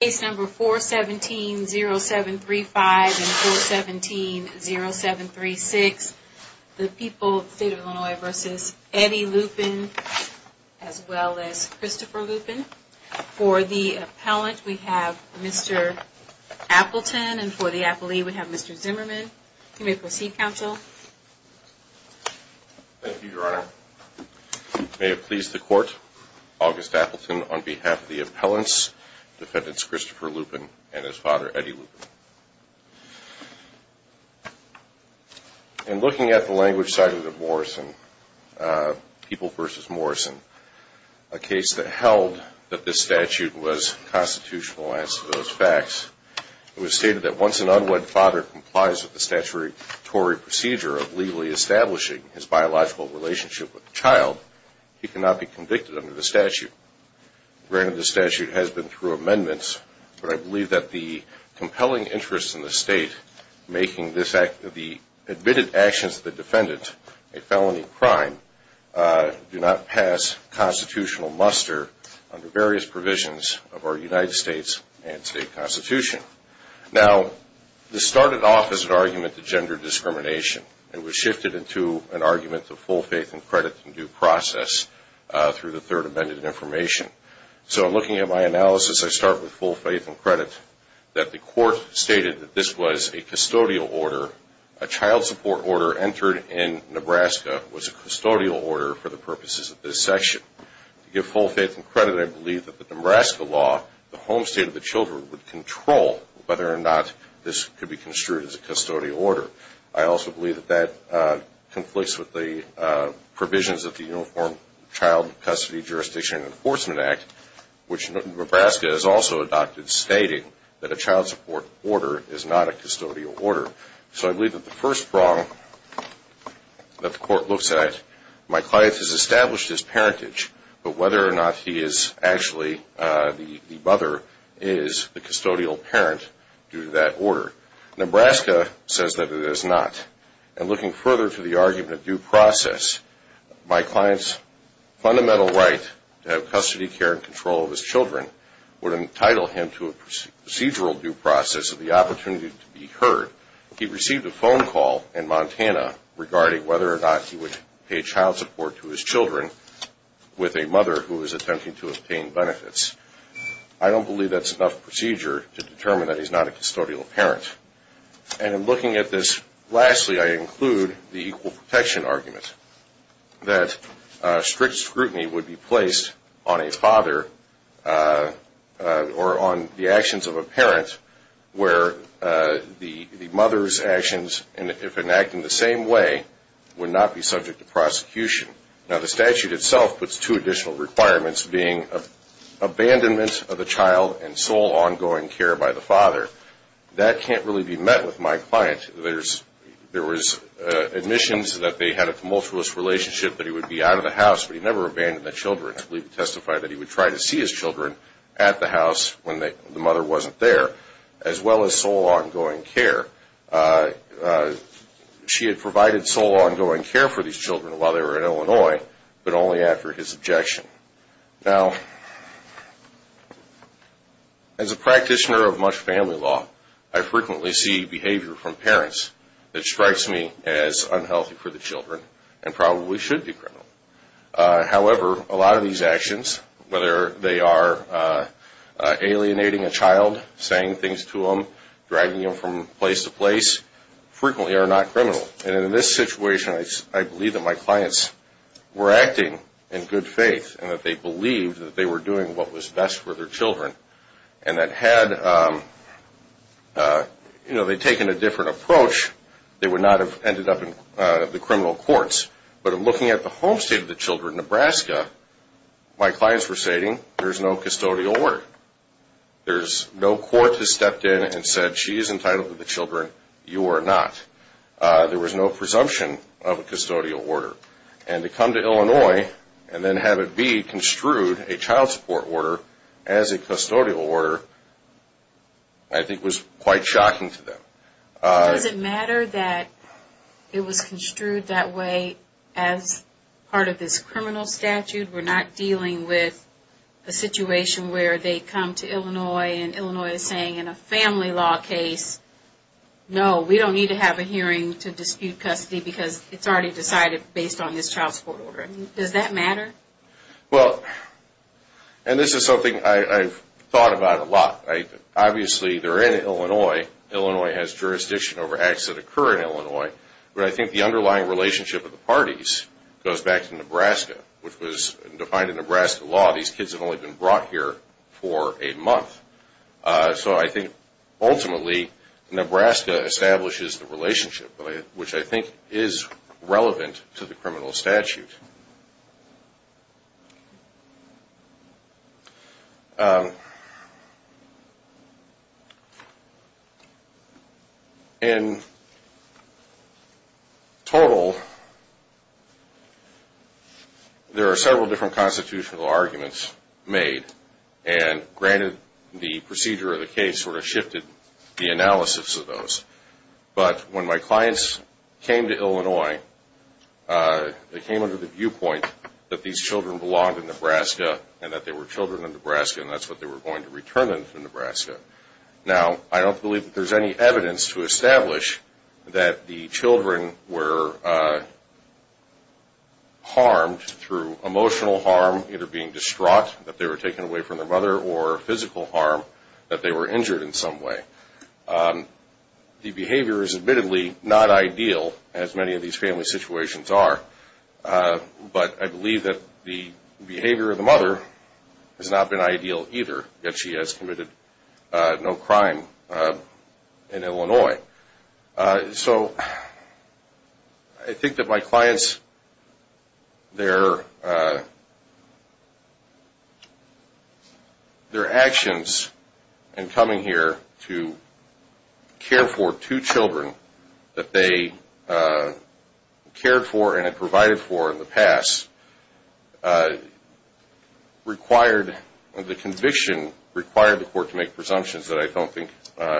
Case number 417-0735 and 417-0736, the people of the state of Illinois v. Eddie Loupin, as well as Christopher Loupin. For the appellant, we have Mr. Appleton, and for the appellee, we have Mr. Zimmerman. You may proceed, counsel. Thank you, Your Honor. May it please the Court, August Appleton on behalf of the appellants, Defendants Christopher Loupin and his father, Eddie Loupin. In looking at the language cited in Morrison, People v. Morrison, a case that held that this statute was constitutional in answer to those facts, it was stated that once an unwed father complies with the statutory procedure of legally establishing his biological relationship with a child, he cannot be convicted under the statute. Granted, the statute has been through amendments, but I believe that the compelling interest in the state making the admitted actions of the defendant a felony crime do not pass constitutional muster under various provisions of our United States and state constitution. Now, this started off as an argument to gender discrimination. It was shifted into an argument to full faith and credit in due process through the third amended information. So, looking at my analysis, I start with full faith and credit that the Court stated that this was a custodial order. A child support order entered in Nebraska was a custodial order for the purposes of this section. To give full faith and credit, I believe that the Nebraska law, the home state of the children, would control whether or not this could be construed as a custodial order. I also believe that that conflicts with the provisions of the Uniform Child Custody Jurisdiction and Enforcement Act, which Nebraska has also adopted, stating that a child support order is not a custodial order. So, I believe that the first wrong that the Court looks at, my client has established his parentage, but whether or not he is actually the mother is the custodial parent due to that order. Nebraska says that it is not. And looking further to the argument of due process, my client's fundamental right to have custody, care, and control of his children would entitle him to a procedural due process of the opportunity to be heard. He received a phone call in Montana regarding whether or not he would pay child support to his children with a mother who was attempting to obtain benefits. I don't believe that's enough procedure to determine that he's not a custodial parent. And in looking at this, lastly, I include the equal protection argument, that strict scrutiny would be placed on a father or on the actions of a parent where the mother's actions, if enacted in the same way, would not be subject to prosecution. Now, the statute itself puts two additional requirements, being abandonment of the child and sole ongoing care by the father. That can't really be met with my client. There was admissions that they had a tumultuous relationship, that he would be out of the house, but he never abandoned the children. I believe it testified that he would try to see his children at the house when the mother wasn't there, as well as sole ongoing care. She had provided sole ongoing care for these children while they were in Illinois, but only after his objection. Now, as a practitioner of much family law, I frequently see behavior from parents that strikes me as unhealthy for the children and probably should be criminal. However, a lot of these actions, whether they are alienating a child, saying things to him, dragging him from place to place, frequently are not criminal. And in this situation, I believe that my clients were acting in good faith and that they believed that they were doing what was best for their children. And that had they taken a different approach, they would not have ended up in the criminal courts. But in looking at the home state of the children, Nebraska, my clients were stating there's no custodial work. No court has stepped in and said she is entitled to the children, you are not. There was no presumption of a custodial order. And to come to Illinois and then have it be construed a child support order as a custodial order, I think was quite shocking to them. Does it matter that it was construed that way as part of this criminal statute? We're not dealing with a situation where they come to Illinois and Illinois is saying in a family law case, no, we don't need to have a hearing to dispute custody because it's already decided based on this child support order. Does that matter? Well, and this is something I've thought about a lot. Obviously, they're in Illinois. Illinois has jurisdiction over acts that occur in Illinois. But I think the underlying relationship of the parties goes back to Nebraska, which was defined in Nebraska law. These kids have only been brought here for a month. So I think ultimately Nebraska establishes the relationship, which I think is relevant to the criminal statute. In total, there are several different constitutional arguments made. And granted, the procedure of the case sort of shifted the analysis of those. But when my clients came to Illinois, they came under the viewpoint that these children belonged in Nebraska and that they were children of Nebraska and that's what they were going to return them to Nebraska. Now, I don't believe that there's any evidence to establish that the children were harmed through emotional harm, either being distraught that they were taken away from their mother or physical harm, that they were injured in some way. The behavior is admittedly not ideal, as many of these family situations are. But I believe that the behavior of the mother has not been ideal either, that she has committed no crime in Illinois. So I think that my clients, their actions in coming here to care for two children that they cared for and provided for in the past, the conviction required the court to make presumptions that I don't think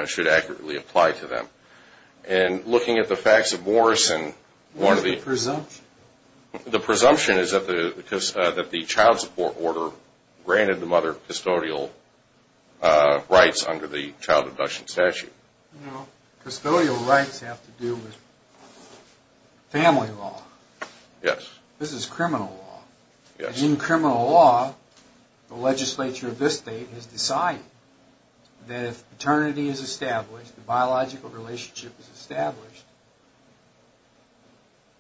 should accurately apply to them. And looking at the facts of Morrison, the presumption is that the child support order granted the mother custodial rights under the child abduction statute. Custodial rights have to do with family law. Yes. This is criminal law. Yes. In criminal law, the legislature of this state has decided that if paternity is established, the biological relationship is established,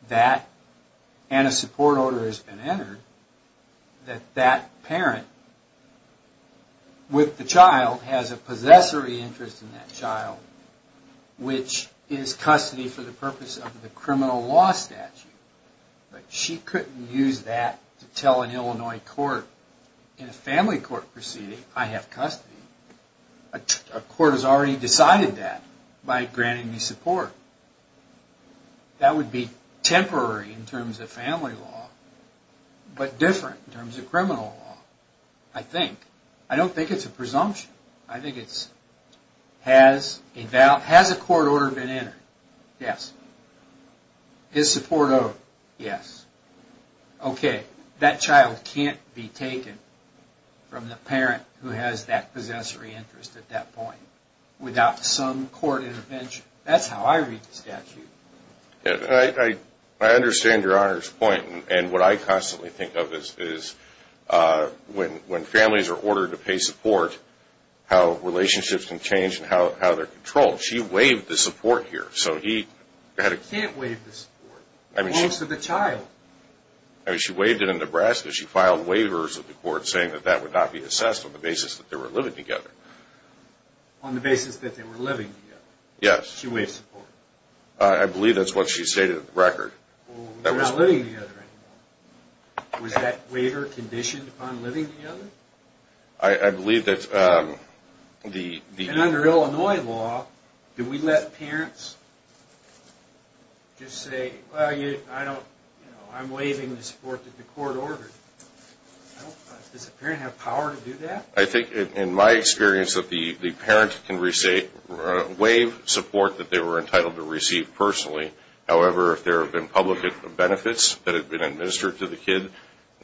that and a support order has been entered, that that parent with the child has a possessory interest in that child, which is custody for the purpose of the criminal law statute. But she couldn't use that to tell an Illinois court in a family court proceeding, I have custody. A court has already decided that by granting me support. That would be temporary in terms of family law, but different in terms of criminal law, I think. I don't think it's a presumption. I think it's, has a court order been entered? Yes. Is support owed? Yes. Okay. That child can't be taken from the parent who has that possessory interest at that point without some court intervention. That's how I read the statute. I understand Your Honor's point, and what I constantly think of is when families are ordered to pay support, how relationships can change and how they're controlled. She waived the support here. She can't waive the support. It belongs to the child. She waived it in Nebraska. She filed waivers with the court saying that that would not be assessed on the basis that they were living together. On the basis that they were living together. Yes. She waived support. I believe that's what she stated in the record. They're not living together anymore. Was that waiver conditioned upon living together? I believe that the... And under Illinois law, do we let parents just say, well, I'm waiving the support that the court ordered? Does a parent have power to do that? I think in my experience that the parent can waive support that they were entitled to receive personally. However, if there have been public benefits that have been administered to the kid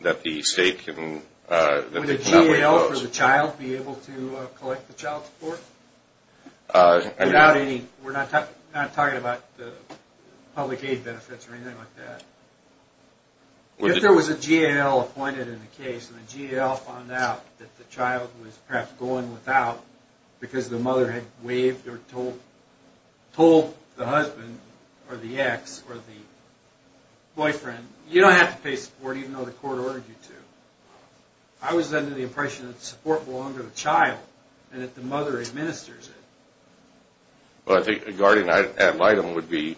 that the state can... Would a GAL for the child be able to collect the child's support? Without any... We're not talking about public aid benefits or anything like that. If there was a GAL appointed in the case and the GAL found out that the child was perhaps going without because the mother had waived or told the husband or the ex or the boyfriend, you don't have to pay support even though the court ordered you to. I was under the impression that support belonged to the child and that the mother administers it. Well, I think a guardian ad litem would be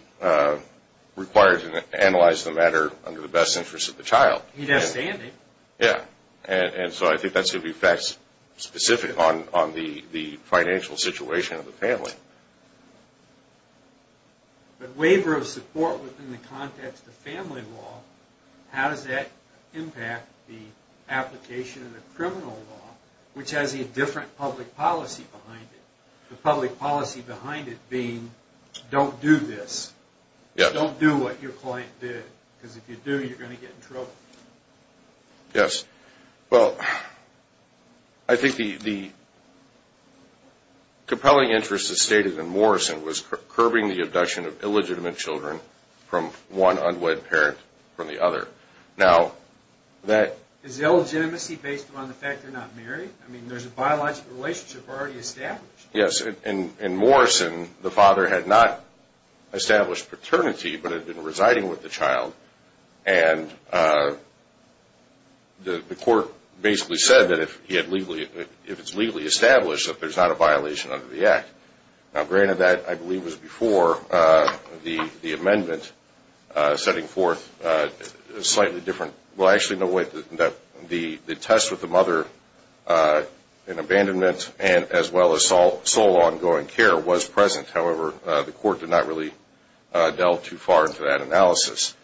required to analyze the matter under the best interest of the child. He'd have standing. Yeah. And so I think that's going to be facts specific on the financial situation of the family. But waiver of support within the context of family law, how does that impact the application of the criminal law, which has a different public policy behind it? The public policy behind it being, don't do this. Don't do what your client did because if you do, you're going to get in trouble. Yes. Well, I think the compelling interest as stated in Morrison was curbing the abduction of illegitimate children from one unwed parent from the other. Now, that... Is the illegitimacy based upon the fact they're not married? I mean, there's a biological relationship already established. Yes. In Morrison, the father had not established paternity but had been residing with the child, and the court basically said that if it's legally established that there's not a violation under the act. Now, granted that I believe was before the amendment setting forth a slightly different... Well, actually, no, the test with the mother in abandonment as well as sole ongoing care was present. However, the court did not really delve too far into that analysis.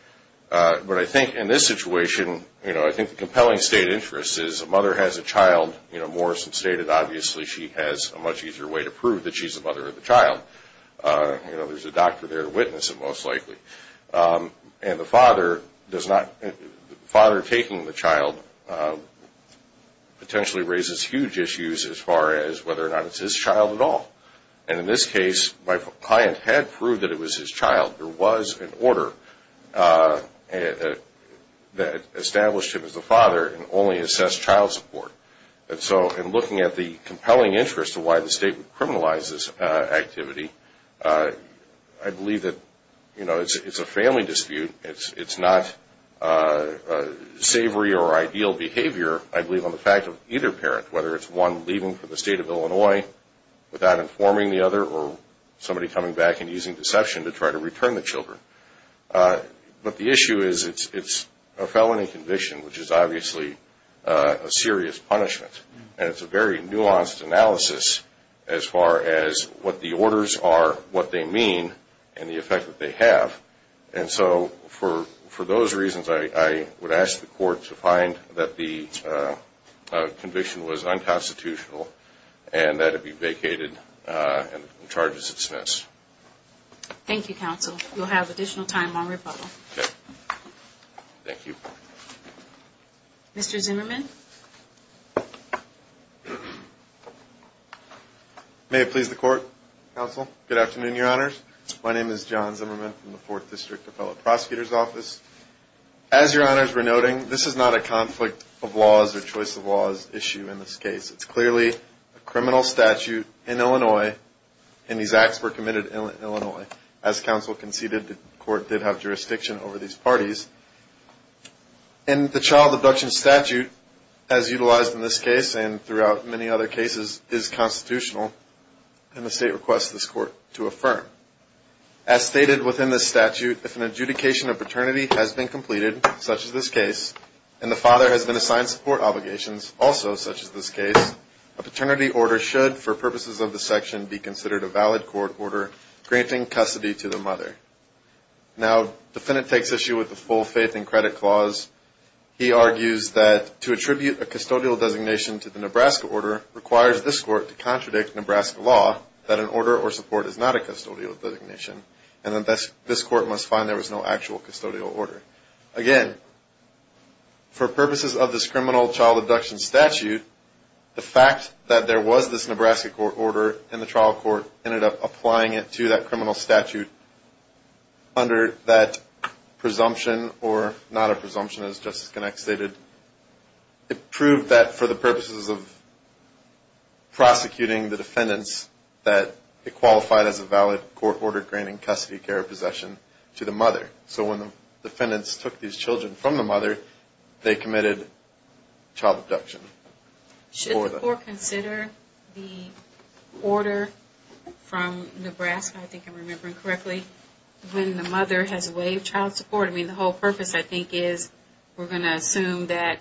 But I think in this situation, you know, I think the compelling state interest is a mother has a child. You know, Morrison stated obviously she has a much easier way to prove that she's the mother of the child. You know, there's a doctor there to witness it most likely. And the father does not... The father taking the child potentially raises huge issues as far as whether or not it's his child at all. And in this case, my client had proved that it was his child. There was an order that established him as the father and only assessed child support. And so in looking at the compelling interest of why the state would criminalize this activity, I believe that, you know, it's a family dispute. It's not savory or ideal behavior, I believe, on the fact of either parent, whether it's one leaving for the state of Illinois without informing the other or somebody coming back and using deception to try to return the children. But the issue is it's a felony conviction, which is obviously a serious punishment. And it's a very nuanced analysis as far as what the orders are, what they mean, and the effect that they have. And so for those reasons, I would ask the court to find that the conviction was unconstitutional and that it be vacated and the charge is dismissed. Thank you, counsel. We'll have additional time on rebuttal. Okay. Thank you. Mr. Zimmerman. May it please the court, counsel. Good afternoon, Your Honors. My name is John Zimmerman from the Fourth District Appellate Prosecutor's Office. As Your Honors were noting, this is not a conflict of laws or choice of laws issue in this case. It's clearly a criminal statute in Illinois, and these acts were committed in Illinois. As counsel conceded, the court did have jurisdiction over these parties. And the child abduction statute as utilized in this case and throughout many other cases is constitutional, and the state requests this court to affirm. As stated within this statute, if an adjudication of paternity has been completed, such as this case, and the father has been assigned support obligations, also such as this case, a paternity order should, for purposes of this section, be considered a valid court order granting custody to the mother. Now, the defendant takes issue with the full faith and credit clause. He argues that to attribute a custodial designation to the Nebraska order requires this court to contradict Nebraska law, that an order or support is not a custodial designation, and that this court must find there was no actual custodial order. Again, for purposes of this criminal child abduction statute, the fact that there was this Nebraska court order and the trial court ended up applying it to that criminal statute under that presumption or not a presumption, as Justice Gennak stated, it proved that for the purposes of prosecuting the defendants, that it qualified as a valid court order granting custody, care, or possession to the mother. So when the defendants took these children from the mother, they committed child abduction. Should the court consider the order from Nebraska, I think I'm remembering correctly, when the mother has waived child support? I mean, the whole purpose, I think, is we're going to assume that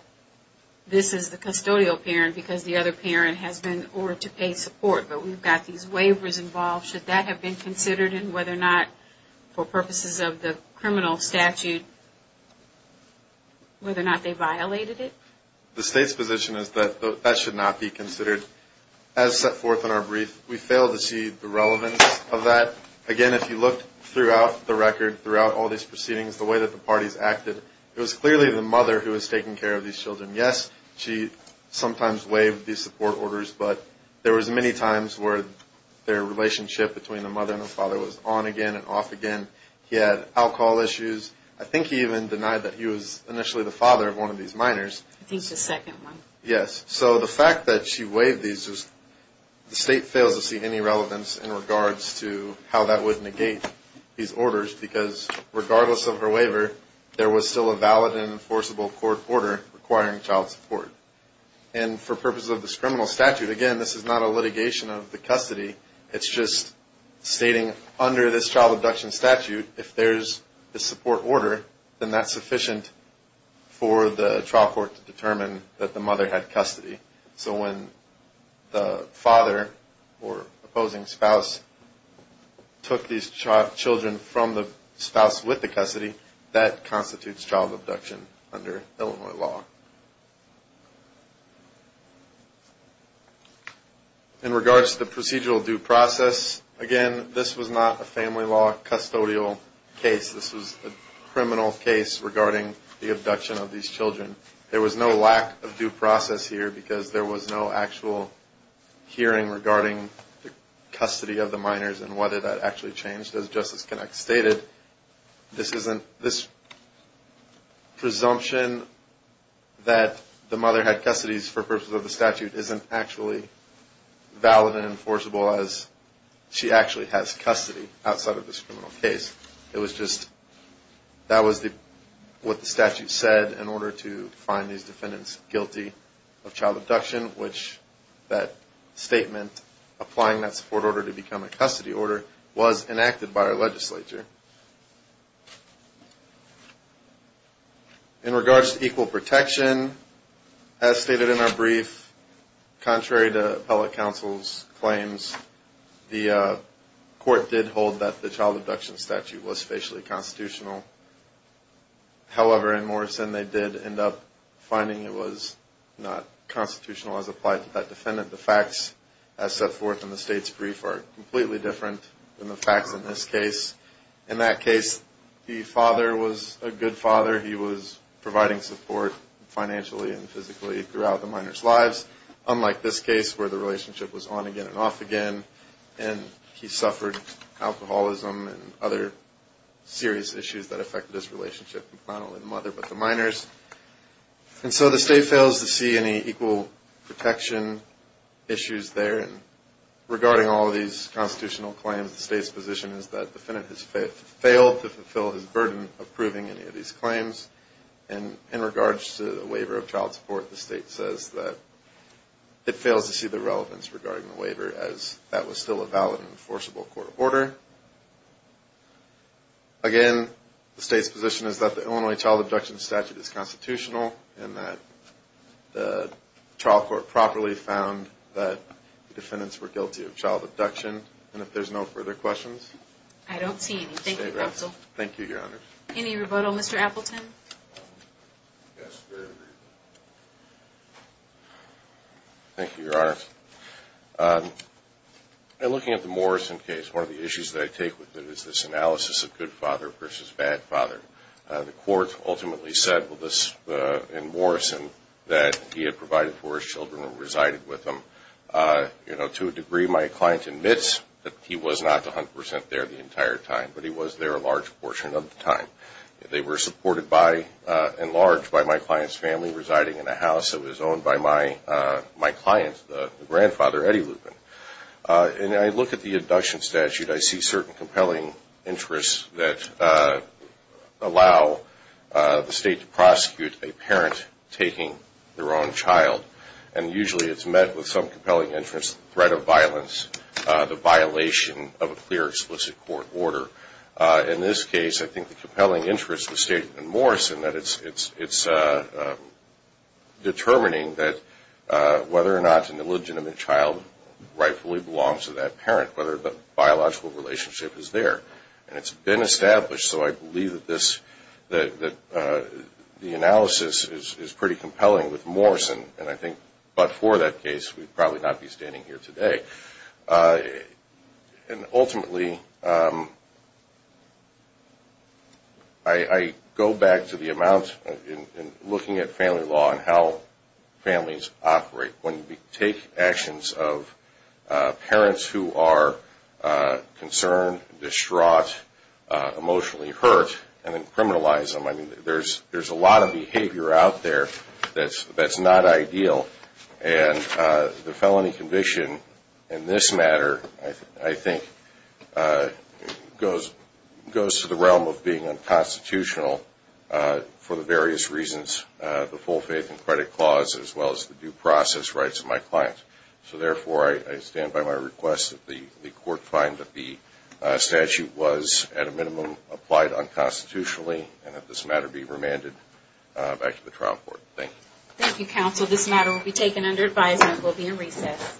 this is the custodial parent because the other parent has been ordered to pay support, but we've got these waivers involved. Should that have been considered, and whether or not, for purposes of the criminal statute, whether or not they violated it? The state's position is that that should not be considered. As set forth in our brief, we fail to see the relevance of that. Again, if you look throughout the record, throughout all these proceedings, the way that the parties acted, it was clearly the mother who was taking care of these children. Yes, she sometimes waived these support orders, but there was many times where their relationship between the mother and the father was on again and off again. He had alcohol issues. I think he even denied that he was initially the father of one of these minors. I think it's the second one. Yes. So the fact that she waived these, the state fails to see any relevance in regards to how that would negate these orders because regardless of her waiver, there was still a valid and enforceable court order requiring child support. And for purposes of this criminal statute, again, this is not a litigation of the custody. It's just stating under this child abduction statute, if there's a support order, then that's sufficient for the trial court to determine that the mother had custody. So when the father or opposing spouse took these children from the spouse with the custody, that constitutes child abduction under Illinois law. In regards to the procedural due process, again, this was not a family law custodial case. This was a criminal case regarding the abduction of these children. There was no lack of due process here because there was no actual hearing regarding the custody of the minors and whether that actually changed. As Justice Connacht stated, this presumption that the mother had custodies for purposes of the statute isn't actually valid and enforceable as she actually has custody outside of this criminal case. It was just that was what the statute said in order to find these defendants guilty of child abduction, which that statement applying that support order to become a custody order was enacted by our legislature. In regards to equal protection, as stated in our brief, contrary to appellate counsel's claims, the court did hold that the child abduction statute was facially constitutional. However, in Morrison, they did end up finding it was not constitutional as applied to that defendant. The facts as set forth in the state's brief are completely different than the facts in this case. In that case, the father was a good father. He was providing support financially and physically throughout the minor's lives, unlike this case where the relationship was on again and off again, and he suffered alcoholism and other serious issues that affected his relationship with not only the mother but the minors. And so the state fails to see any equal protection issues there. And regarding all of these constitutional claims, the state's position is that the defendant has failed to fulfill his burden of proving any of these claims. And in regards to the waiver of child support, the state says that it fails to see the relevance regarding the waiver as that was still a valid and enforceable court order. Again, the state's position is that the Illinois child abduction statute is constitutional and that the trial court properly found that the defendants were guilty of child abduction. And if there's no further questions? I don't see any. Thank you, counsel. Thank you, Your Honor. Any rebuttal, Mr. Appleton? Yes, sir. Thank you, Your Honor. In looking at the Morrison case, one of the issues that I take with it is this analysis of good father versus bad father. The court ultimately said in Morrison that he had provided for his children and resided with them. To a degree, my client admits that he was not 100 percent there the entire time, but he was there a large portion of the time. They were supported by and enlarged by my client's family residing in a house that was owned by my client, the grandfather, Eddie Lupin. And I look at the abduction statute, I see certain compelling interests that allow the state to prosecute a parent taking their own child. And usually it's met with some compelling interest, threat of violence, the violation of a clear, explicit court order. In this case, I think the compelling interest was stated in Morrison that it's determining that whether or not an illegitimate child rightfully belongs to that parent, whether the biological relationship is there. And it's been established, so I believe that the analysis is pretty compelling with Morrison. And I think but for that case, we'd probably not be standing here today. And ultimately, I go back to the amount in looking at family law and how families operate. When we take actions of parents who are concerned, distraught, emotionally hurt, and then criminalize them. I mean, there's a lot of behavior out there that's not ideal. And the felony conviction in this matter, I think, goes to the realm of being unconstitutional for the various reasons, the full faith and credit clause as well as the due process rights of my client. So therefore, I stand by my request that the court find that the statute was at a minimum applied unconstitutionally and that this matter be remanded back to the trial court. Thank you. Thank you, counsel. This matter will be taken under advisement. We'll be in recess.